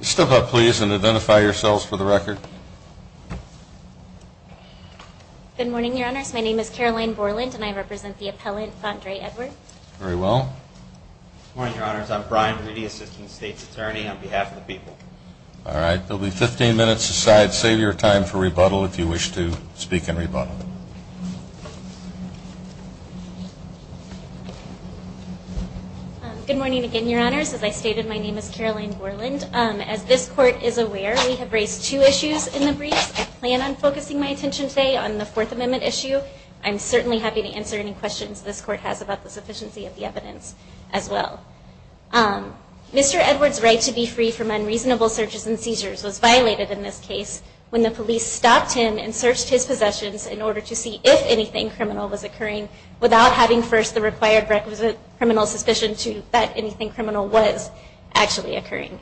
Step up, please, and identify yourselves for the record. Good morning, Your Honors. My name is Caroline Borland, and I represent the appellant Andre Edward. Very well. Good morning, Your Honors. I'm Brian Brady, Assistant State's Attorney, on behalf of the people. All right. There will be 15 minutes aside. Save your time for rebuttal if you wish to speak in rebuttal. Good morning again, Your Honors. As I stated, my name is Caroline Borland. As this Court is aware, we have raised two issues in the briefs. I plan on focusing my attention today on the Fourth Amendment issue. I'm certainly happy to answer any questions this Court has about the sufficiency of the evidence as well. Mr. Edward's right to be free from unreasonable searches and seizures was violated in this case when the police stopped him and searched his possessions in order to see if anything criminal was occurring without having first the required requisite criminal suspicion that anything criminal was actually occurring.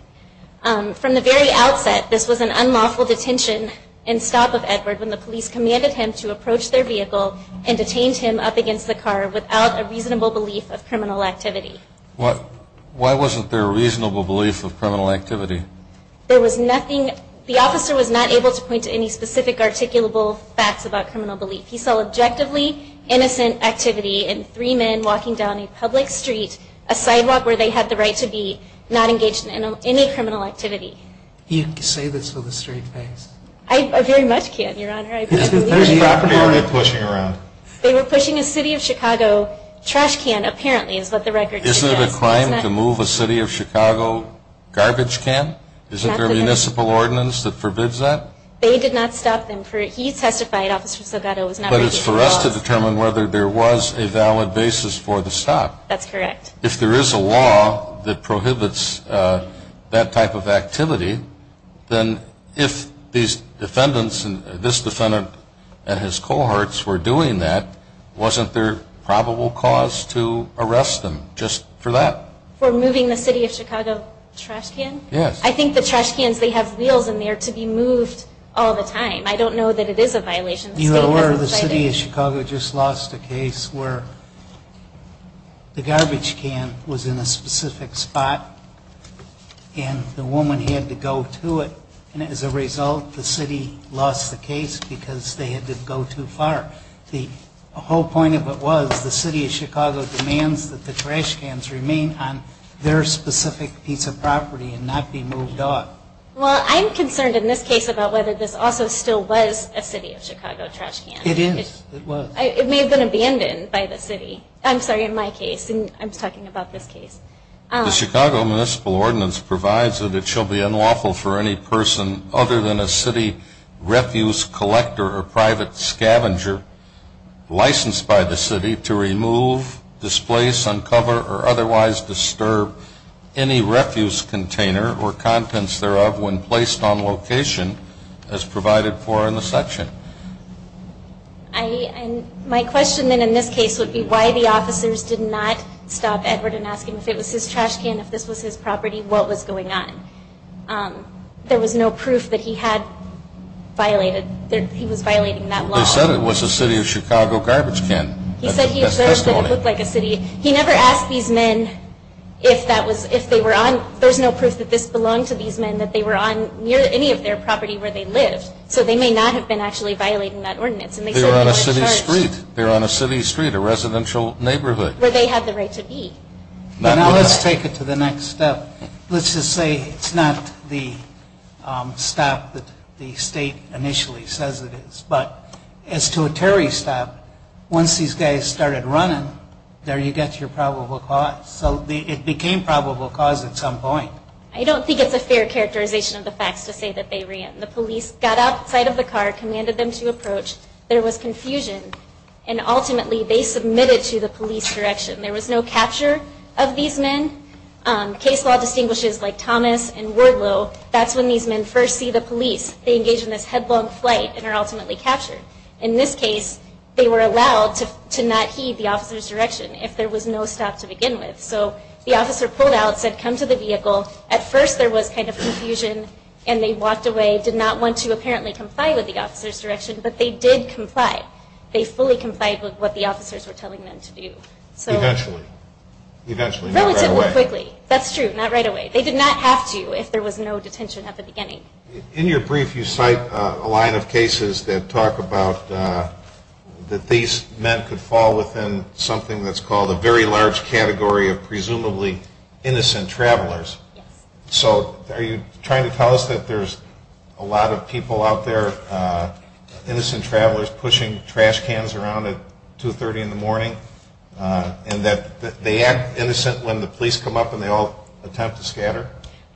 From the very outset, this was an unlawful detention and stop of Edward when the police commanded him to approach their vehicle and detain him up against the car without a reasonable belief of criminal activity. Why wasn't there a reasonable belief of criminal activity? There was nothing. The officer was not able to point to any specific articulable facts about criminal belief. He saw objectively innocent activity in three men walking down a public street, a sidewalk where they had the right to be not engaged in any criminal activity. You can say this with a straight face. I very much can, Your Honor. Whose property were they pushing around? They were pushing a City of Chicago trash can, apparently, is what the record says. Isn't it a crime to move a City of Chicago garbage can? Isn't there a municipal ordinance that forbids that? They did not stop them. He testified, Officer Silgato, was not breaking the law. But it's for us to determine whether there was a valid basis for the stop. That's correct. If there is a law that prohibits that type of activity, then if these defendants and this defendant and his cohorts were doing that, wasn't there probable cause to arrest them just for that? For moving the City of Chicago trash can? Yes. I think the trash cans, they have wheels in there to be moved all the time. I don't know that it is a violation. Either way, the City of Chicago just lost a case where the garbage can was in a specific spot and the woman had to go to it. And as a result, the city lost the case because they had to go too far. The whole point of it was the City of Chicago demands that the trash cans remain on their specific piece of property and not be moved on. Well, I'm concerned in this case about whether this also still was a City of Chicago trash can. It is. It was. It may have been abandoned by the City. I'm sorry, in my case. I'm talking about this case. The Chicago Municipal Ordinance provides that it shall be unlawful for any person other than a City refuse collector or private scavenger licensed by the City to remove, displace, uncover, or otherwise disturb any refuse container or contents thereof when placed on location as provided for in the section. My question then in this case would be why the officers did not stop Edward and ask him if it was his trash can, if this was his property, what was going on. There was no proof that he had violated, that he was violating that law. They said it was a City of Chicago garbage can. He said he observed that it looked like a City. He never asked these men if that was, if they were on, there's no proof that this belonged to these men, that they were on near any of their property where they lived. So they may not have been actually violating that ordinance. They were on a City street. They were on a City street, a residential neighborhood. Where they had the right to be. Now let's take it to the next step. Let's just say it's not the stop that the State initially says it is. But as to a Terry stop, once these guys started running, there you get your probable cause. So it became probable cause at some point. I don't think it's a fair characterization of the facts to say that they ran. The police got outside of the car, commanded them to approach. There was confusion. And ultimately they submitted to the police direction. There was no capture of these men. Case law distinguishes like Thomas and Wardlow. That's when these men first see the police. They engage in this headlong flight and are ultimately captured. In this case, they were allowed to not heed the officer's direction if there was no stop to begin with. So the officer pulled out, said come to the vehicle. At first there was kind of confusion. And they walked away, did not want to apparently comply with the officer's direction. But they did comply. They fully complied with what the officers were telling them to do. Eventually. Eventually. Not right away. Relatively quickly. That's true. Not right away. They did not have to if there was no detention at the beginning. In your brief you cite a line of cases that talk about that these men could fall within something that's called a very large category of presumably innocent travelers. Yes. So are you trying to tell us that there's a lot of people out there, innocent travelers pushing trash cans around at 2.30 in the morning? And that they act innocent when the police come up and they all attempt to scatter?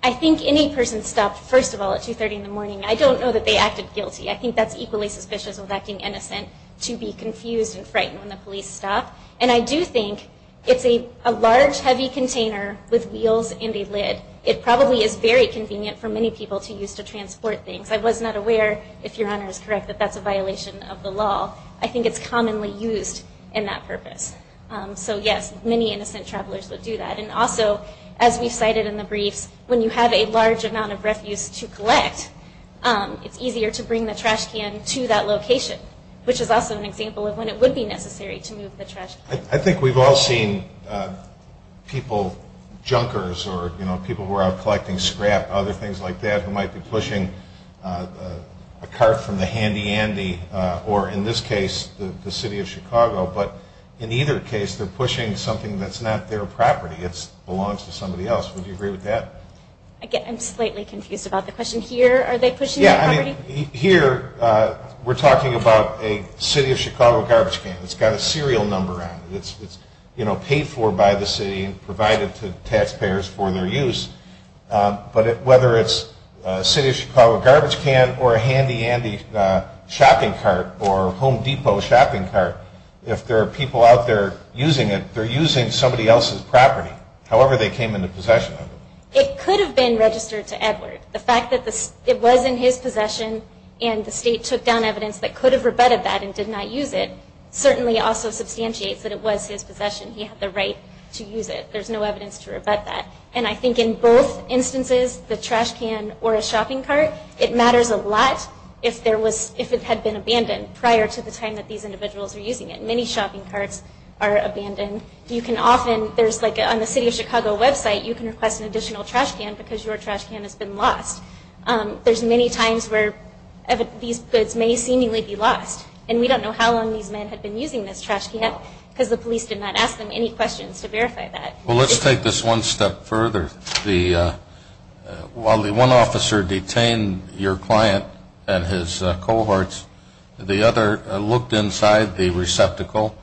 I think any person stopped, first of all, at 2.30 in the morning. I don't know that they acted guilty. I think that's equally suspicious of acting innocent to be confused and frightened when the police stop. And I do think it's a large, heavy container with wheels and a lid. It probably is very convenient for many people to use to transport things. I was not aware, if Your Honor is correct, that that's a violation of the law. I think it's commonly used in that purpose. So, yes, many innocent travelers would do that. And also, as we've cited in the briefs, when you have a large amount of refuse to collect, it's easier to bring the trash can to that location, which is also an example of when it would be necessary to move the trash can. I think we've all seen people, junkers or people who are out collecting scrap, other things like that, who might be pushing a cart from the handy-andy, or in this case, the city of Chicago. But in either case, they're pushing something that's not their property. It belongs to somebody else. Would you agree with that? I'm slightly confused about the question. Here, are they pushing their property? Here, we're talking about a city of Chicago garbage can. It's got a serial number on it. It's paid for by the city and provided to taxpayers for their use. But whether it's a city of Chicago garbage can or a handy-andy shopping cart or Home Depot shopping cart, if there are people out there using it, they're using somebody else's property, however they came into possession of it. It could have been registered to Edward. The fact that it was in his possession and the state took down evidence that could have rebutted that and did not use it certainly also substantiates that it was his possession. He had the right to use it. There's no evidence to rebut that. And I think in both instances, the trash can or a shopping cart, it matters a lot if it had been abandoned prior to the time that these individuals were using it. Many shopping carts are abandoned. You can often, there's like on the city of Chicago website, you can request an additional trash can because your trash can has been lost. There's many times where these goods may seemingly be lost. And we don't know how long these men had been using this trash can because the police did not ask them any questions to verify that. Well, let's take this one step further. While the one officer detained your client and his cohorts, the other looked inside the receptacle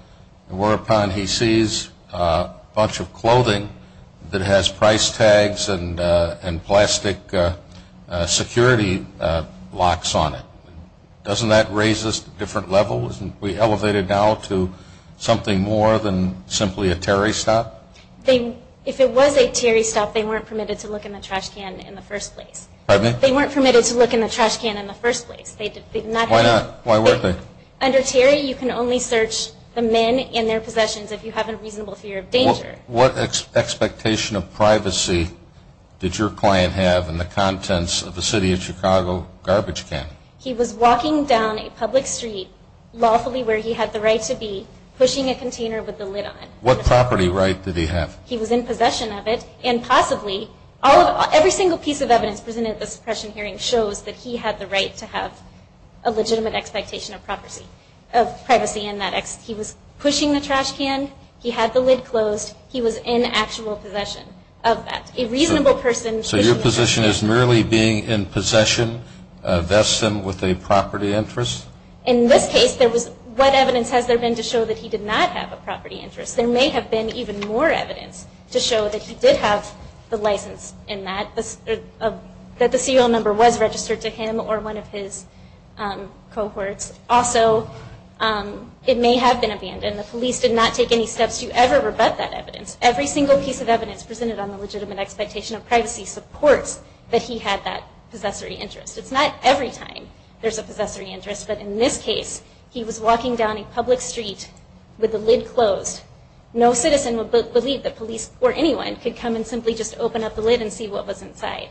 and whereupon he sees a bunch of clothing that has price tags and plastic security locks on it. Doesn't that raise us to different levels? Isn't we elevated now to something more than simply a Terry stop? If it was a Terry stop, they weren't permitted to look in the trash can in the first place. Pardon me? They weren't permitted to look in the trash can in the first place. Why not? Why weren't they? Under Terry, you can only search the men in their possessions if you have a reasonable fear of danger. What expectation of privacy did your client have in the contents of the city of Chicago garbage can? He was walking down a public street, lawfully, where he had the right to be pushing a container with the lid on it. What property right did he have? He was in possession of it, and possibly, every single piece of evidence presented at the suppression hearing shows that he had the right to have a legitimate expectation of privacy in that he was pushing the trash can, he had the lid closed, he was in actual possession of that. So your position is merely being in possession, vesting with a property interest? In this case, what evidence has there been to show that he did not have a property interest? There may have been even more evidence to show that he did have the license in that, that the CO number was registered to him or one of his cohorts. Also, it may have been abandoned. The police did not take any steps to ever rebut that evidence. Every single piece of evidence presented on the legitimate expectation of privacy supports that he had that possessory interest. It's not every time there's a possessory interest, but in this case he was walking down a public street with the lid closed. No citizen would believe that police or anyone could come and simply just open up the lid and see what was inside.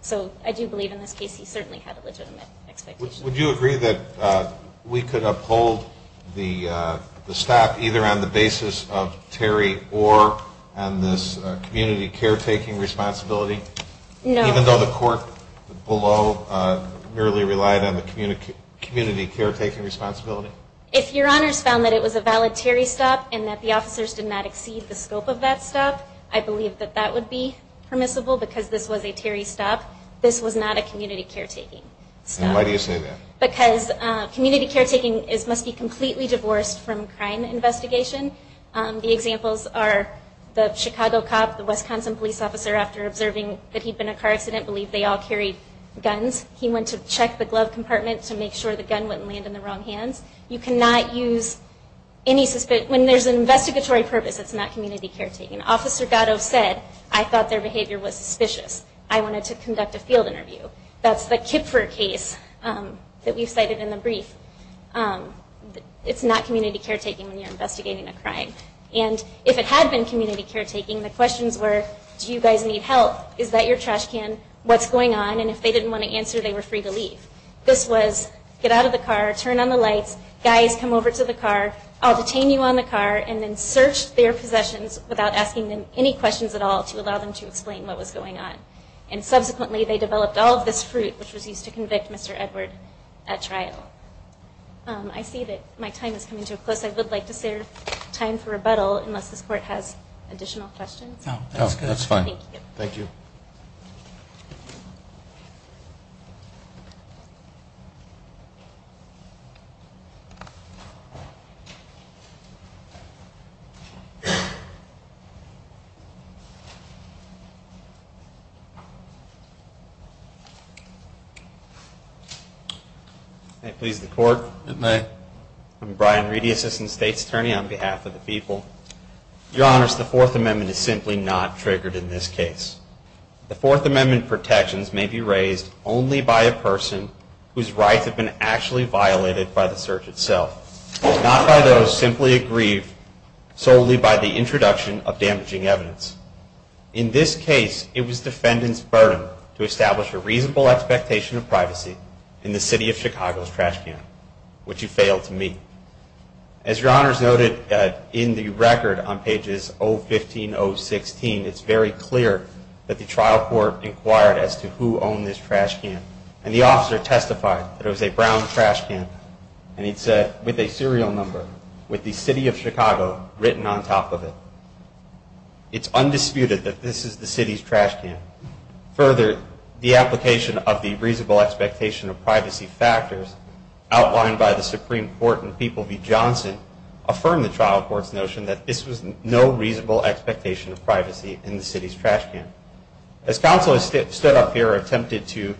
So I do believe in this case he certainly had a legitimate expectation. Would you agree that we could uphold the stop either on the basis of Terry or on this community caretaking responsibility? No. Even though the court below merely relied on the community caretaking responsibility? If Your Honors found that it was a valid Terry stop and that the officers did not exceed the scope of that stop, I believe that that would be permissible because this was a Terry stop. This was not a community caretaking stop. Why do you say that? Because community caretaking must be completely divorced from crime investigation. The examples are the Chicago cop, the Wisconsin police officer, after observing that he'd been in a car accident, believed they all carried guns. He went to check the glove compartment to make sure the gun wouldn't land in the wrong hands. You cannot use any suspicion. When there's an investigatory purpose, it's not community caretaking. Officer Gatto said, I thought their behavior was suspicious. I wanted to conduct a field interview. That's the Kipfer case that we've cited in the brief. It's not community caretaking when you're investigating a crime. And if it had been community caretaking, the questions were, do you guys need help? Is that your trash can? What's going on? And if they didn't want to answer, they were free to leave. This was get out of the car, turn on the lights, guys, come over to the car, I'll detain you on the car, and then search their possessions without asking them any questions at all to allow them to explain what was going on. And subsequently, they developed all of this fruit, which was used to convict Mr. Edward at trial. I see that my time is coming to a close. I would like to save time for rebuttal unless this Court has additional questions. No, that's fine. Thank you. Thank you. May it please the Court? It may. I'm Brian Reedy, Assistant State's Attorney on behalf of the people. Your Honors, the Fourth Amendment is simply not triggered in this case. The Fourth Amendment protections may be raised only by a person whose rights have been actually violated by the search itself, not by those simply aggrieved solely by the introduction of damaging evidence. In this case, it was defendant's burden to establish a reasonable expectation of privacy in the City of Chicago's trash can, which you failed to meet. As Your Honors noted in the record on pages 015, 016, it's very clear that the trial court inquired as to who owned this trash can. And the officer testified that it was a brown trash can with a serial number with the City of Chicago written on top of it. So it's undisputed that this is the City's trash can. Further, the application of the reasonable expectation of privacy factors outlined by the Supreme Court and People v. Johnson affirmed the trial court's notion that this was no reasonable expectation of privacy in the City's trash can. As counsel has stood up here and attempted to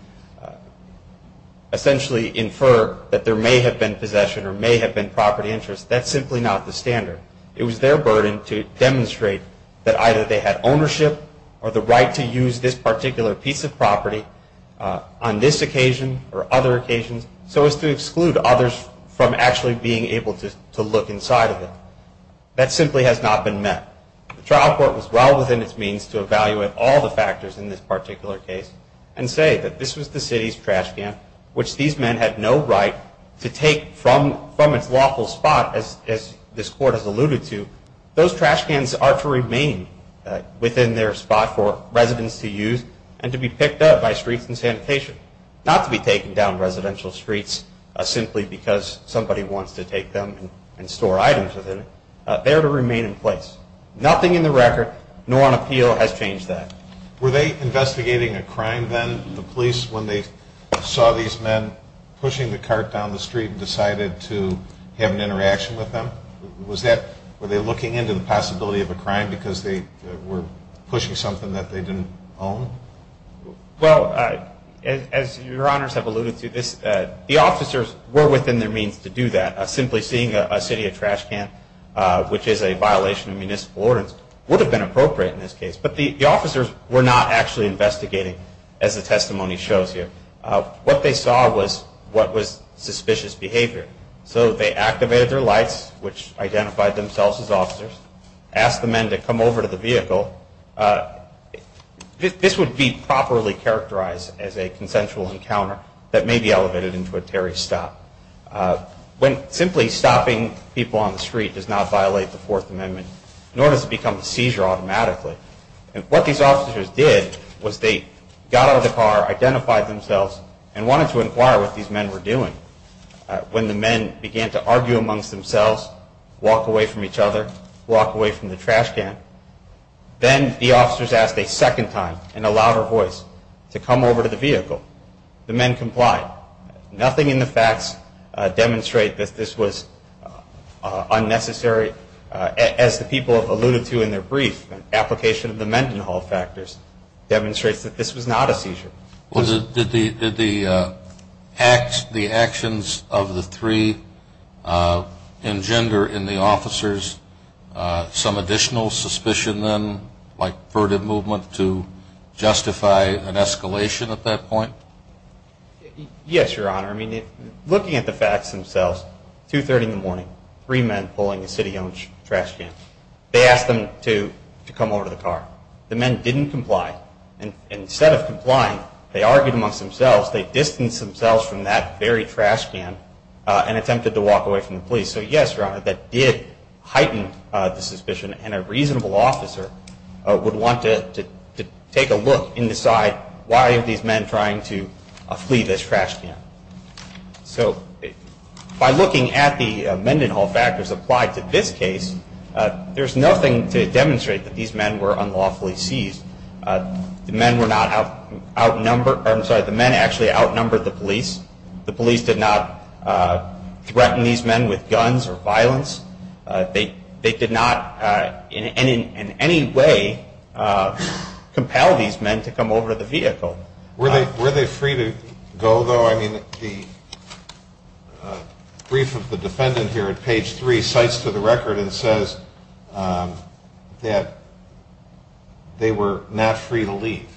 essentially infer that there may have been possession or may have been property interest, that's simply not the standard. It was their burden to demonstrate that either they had ownership or the right to use this particular piece of property on this occasion or other occasions so as to exclude others from actually being able to look inside of it. That simply has not been met. The trial court was well within its means to evaluate all the factors in this particular case and say that this was the City's trash can, which these men had no right to take from its lawful spot, as this court has alluded to. Those trash cans are to remain within their spot for residents to use and to be picked up by Streets and Sanitation, not to be taken down residential streets simply because somebody wants to take them and store items within it. They are to remain in place. Nothing in the record, nor on appeal, has changed that. Were they investigating a crime then, the police, when they saw these men pushing the cart down the street and decided to have an interaction with them? Were they looking into the possibility of a crime because they were pushing something that they didn't own? Well, as Your Honors have alluded to, the officers were within their means to do that. Simply seeing a City of trash can, which is a violation of municipal ordinance, would have been appropriate in this case, but the officers were not actually investigating, as the testimony shows here. What they saw was what was suspicious behavior. So they activated their lights, which identified themselves as officers, asked the men to come over to the vehicle. This would be properly characterized as a consensual encounter that may be elevated into a Terry stop. Simply stopping people on the street does not violate the Fourth Amendment, nor does it become a seizure automatically. What these officers did was they got out of the car, identified themselves, and wanted to inquire what these men were doing. When the men began to argue amongst themselves, walk away from each other, walk away from the trash can, then the officers asked a second time in a louder voice to come over to the vehicle. The men complied. Nothing in the facts demonstrate that this was unnecessary. As the people have alluded to in their brief, an application of the Mendenhall factors demonstrates that this was not a seizure. Did the actions of the three engender in the officers some additional suspicion then, to justify an escalation at that point? Yes, Your Honor. Looking at the facts themselves, 2.30 in the morning, three men pulling a city-owned trash can. They asked them to come over to the car. The men didn't comply. Instead of complying, they argued amongst themselves. They distanced themselves from that very trash can and attempted to walk away from the police. So yes, Your Honor, that did heighten the suspicion. And a reasonable officer would want to take a look and decide why are these men trying to flee this trash can? So by looking at the Mendenhall factors applied to this case, there's nothing to demonstrate that these men were unlawfully seized. The men were not outnumbered. I'm sorry, the men actually outnumbered the police. The police did not threaten these men with guns or violence. They did not in any way compel these men to come over to the vehicle. Were they free to go, though? I mean the brief of the defendant here at page three cites to the record and says that they were not free to leave.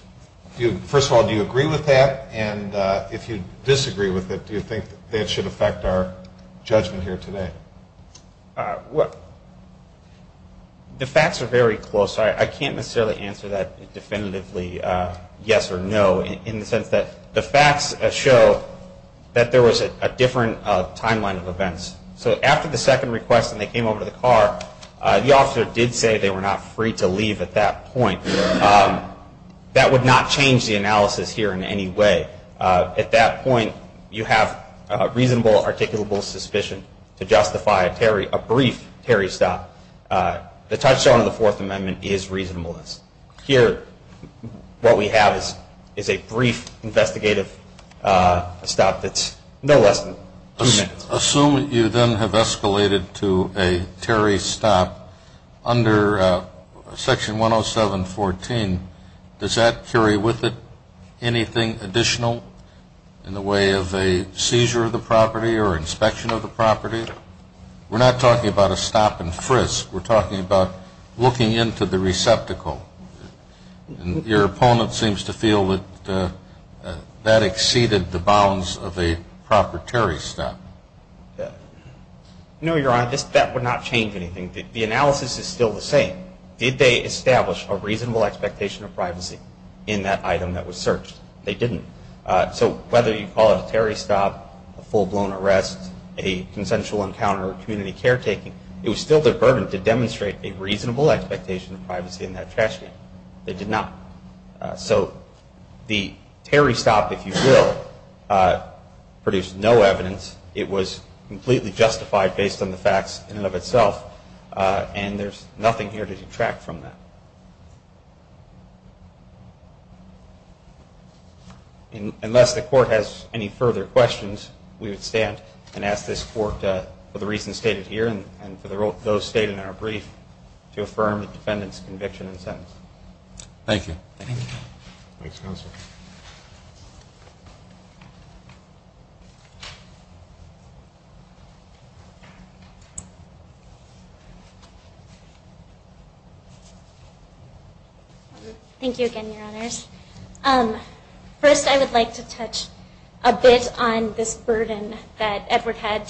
First of all, do you agree with that? And if you disagree with it, do you think that should affect our judgment here today? The facts are very close. I can't necessarily answer that definitively yes or no, in the sense that the facts show that there was a different timeline of events. So after the second request and they came over to the car, the officer did say they were not free to leave at that point. That would not change the analysis here in any way. At that point, you have a reasonable, articulable suspicion to justify a brief Terry stop. The touchstone of the Fourth Amendment is reasonableness. Here what we have is a brief investigative stop that's no less than two minutes. Assuming you then have escalated to a Terry stop under Section 107.14, does that carry with it anything additional in the way of a seizure of the property or inspection of the property? We're not talking about a stop and frisk. We're talking about looking into the receptacle. Your opponent seems to feel that that exceeded the bounds of a proper Terry stop. No, Your Honor, that would not change anything. The analysis is still the same. Did they establish a reasonable expectation of privacy in that item that was searched? They didn't. So whether you call it a Terry stop, a full-blown arrest, a consensual encounter, or community caretaking, it was still their burden to demonstrate a reasonable expectation of privacy in that trash can. They did not. So the Terry stop, if you will, produced no evidence. It was completely justified based on the facts in and of itself, and there's nothing here to detract from that. Unless the Court has any further questions, we would stand and ask this Court, for the reasons stated here and for those stated in our brief, to affirm the defendant's conviction and sentence. Thank you. Thanks, Counsel. Thank you again, Your Honors. First, I would like to touch a bit on this burden that Edward had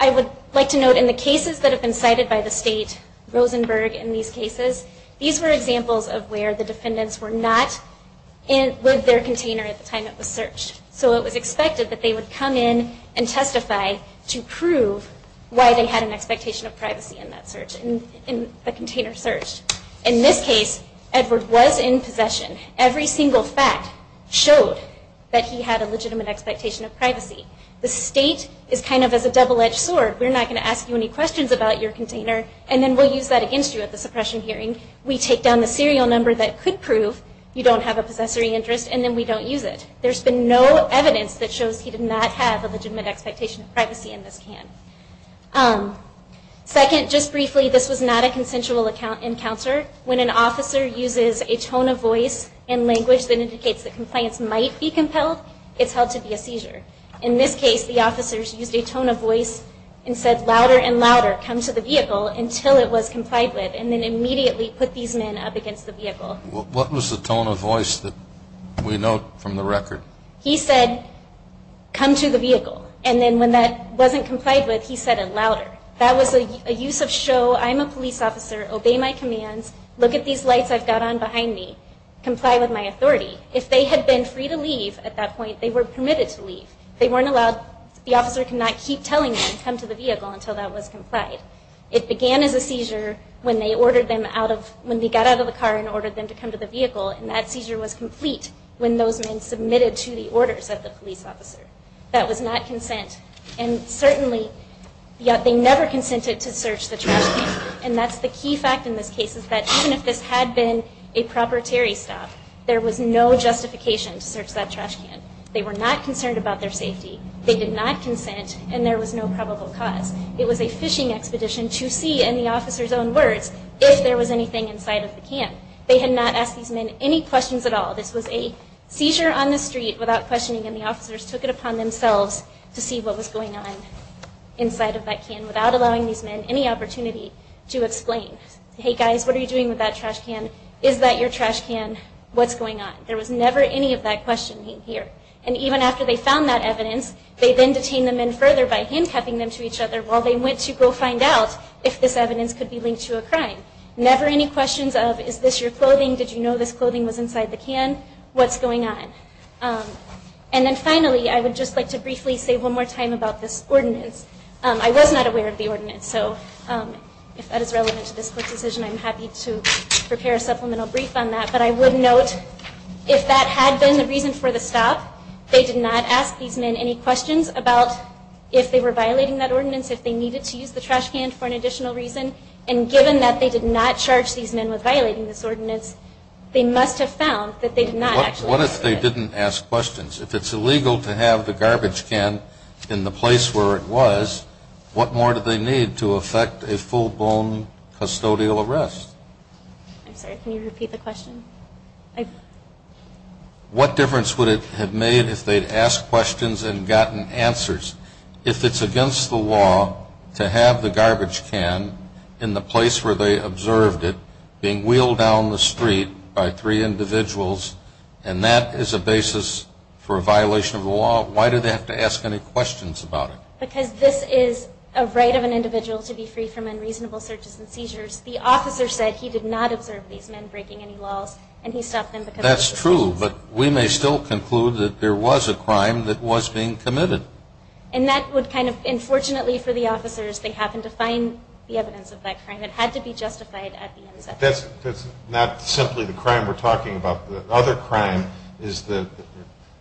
I would like to note in the cases that have been cited by the State, Rosenberg in these cases, these were examples of where the defendants were not with their container at the time it was searched. So it was expected that they would come in and testify to prove why they had an expectation of privacy in the container searched. In this case, Edward was in possession. Every single fact showed that he had a legitimate expectation of privacy. The State is kind of as a double-edged sword. We're not going to ask you any questions about your container, and then we'll use that against you at the suppression hearing. We take down the serial number that could prove you don't have a possessory interest, and then we don't use it. There's been no evidence that shows he did not have a legitimate expectation of privacy in this can. Second, just briefly, this was not a consensual encounter. When an officer uses a tone of voice and language that indicates that compliance might be compelled, it's held to be a seizure. In this case, the officers used a tone of voice and said, louder and louder, come to the vehicle, until it was complied with, and then immediately put these men up against the vehicle. What was the tone of voice that we know from the record? He said, come to the vehicle, and then when that wasn't complied with, he said it louder. That was a use of show, I'm a police officer, obey my commands, If they had been free to leave at that point, they were permitted to leave. The officer could not keep telling them, come to the vehicle, until that was complied. It began as a seizure when they got out of the car and ordered them to come to the vehicle, and that seizure was complete when those men submitted to the orders of the police officer. That was not consent. Certainly, they never consented to search the trash can, and that's the key fact in this case, is that even if this had been a proprietary stop, there was no justification to search that trash can. They were not concerned about their safety. They did not consent, and there was no probable cause. It was a fishing expedition to see, in the officer's own words, if there was anything inside of the can. They had not asked these men any questions at all. This was a seizure on the street without questioning, and the officers took it upon themselves to see what was going on inside of that can without allowing these men any opportunity to explain. Hey guys, what are you doing with that trash can? Is that your trash can? What's going on? There was never any of that questioning here. And even after they found that evidence, they then detained the men further by handcuffing them to each other while they went to go find out if this evidence could be linked to a crime. Never any questions of, is this your clothing? Did you know this clothing was inside the can? What's going on? And then finally, I would just like to briefly say one more time about this ordinance. I was not aware of the ordinance, so if that is relevant to this court's decision, I'm happy to prepare a supplemental brief on that. But I would note, if that had been the reason for the stop, they did not ask these men any questions about if they were violating that ordinance, if they needed to use the trash can for an additional reason. And given that they did not charge these men with violating this ordinance, they must have found that they did not actually violate it. What if they didn't ask questions? If it's illegal to have the garbage can in the place where it was, what more do they need to effect a full-blown custodial arrest? I'm sorry, can you repeat the question? What difference would it have made if they'd asked questions and gotten answers? If it's against the law to have the garbage can in the place where they observed it being wheeled down the street by three individuals, and that is a basis for a violation of the law, why do they have to ask any questions about it? Because this is a right of an individual to be free from unreasonable searches and seizures. The officer said he did not observe these men breaking any laws, and he stopped them because they were searching. That's true, but we may still conclude that there was a crime that was being committed. And that would kind of, unfortunately for the officers, they happened to find the evidence of that crime. It had to be justified at the end. That's not simply the crime we're talking about. The other crime is the,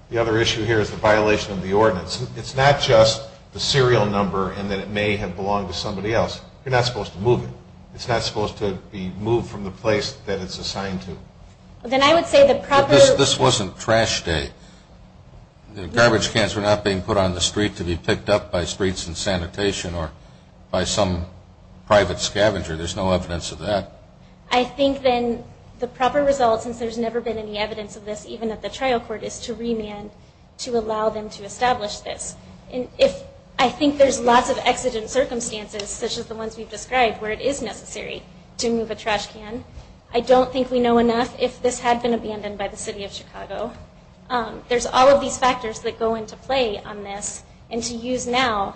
the other issue here is the violation of the ordinance. It's not just the serial number and that it may have belonged to somebody else. You're not supposed to move it. It's not supposed to be moved from the place that it's assigned to. Then I would say the proper... But this wasn't trash day. The garbage cans were not being put on the street to be picked up by Streets and Sanitation or by some private scavenger. There's no evidence of that. I think then the proper result, since there's never been any evidence of this, even at the trial court, is to remand to allow them to establish this. And if... I think there's lots of exigent circumstances, such as the ones we've described, where it is necessary to move a trash can. I don't think we know enough if this had been abandoned by the city of Chicago. There's all of these factors that go into play on this. And to use now...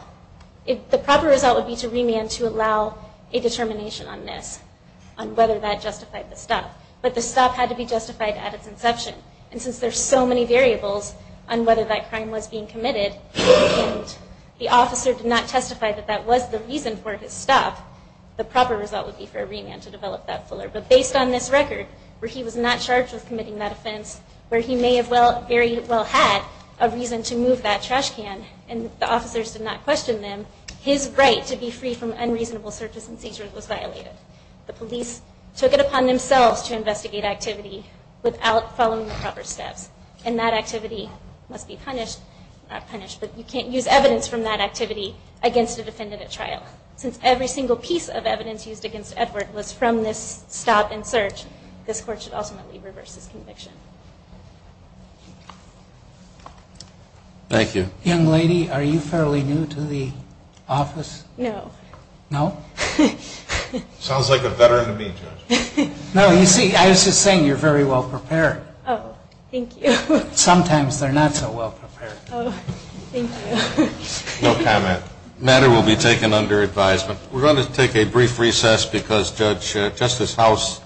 The proper result would be to remand to allow a determination on this, on whether that justified the stop. But the stop had to be justified at its inception. And since there's so many variables on whether that crime was being committed and the officer did not testify that that was the reason for his stop, the proper result would be for a remand to develop that fuller. But based on this record, where he was not charged with committing that offense, where he may have very well had a reason to move that trash can, and the officers did not question them, his right to be free from unreasonable searches and seizures was violated. The police took it upon themselves to investigate activity without following the proper steps. And that activity must be punished. Not punished, but you can't use evidence from that activity against a defendant at trial. Since every single piece of evidence used against Edward was from this stop and search, this Court should ultimately reverse his conviction. Thank you. Young lady, are you fairly new to the office? No. No? Sounds like a veteran to me, Judge. No, you see, I was just saying you're very well prepared. Oh, thank you. Sometimes they're not so well prepared. Oh, thank you. No comment. The matter will be taken under advisement. We're going to take a brief recess because Judge Justice House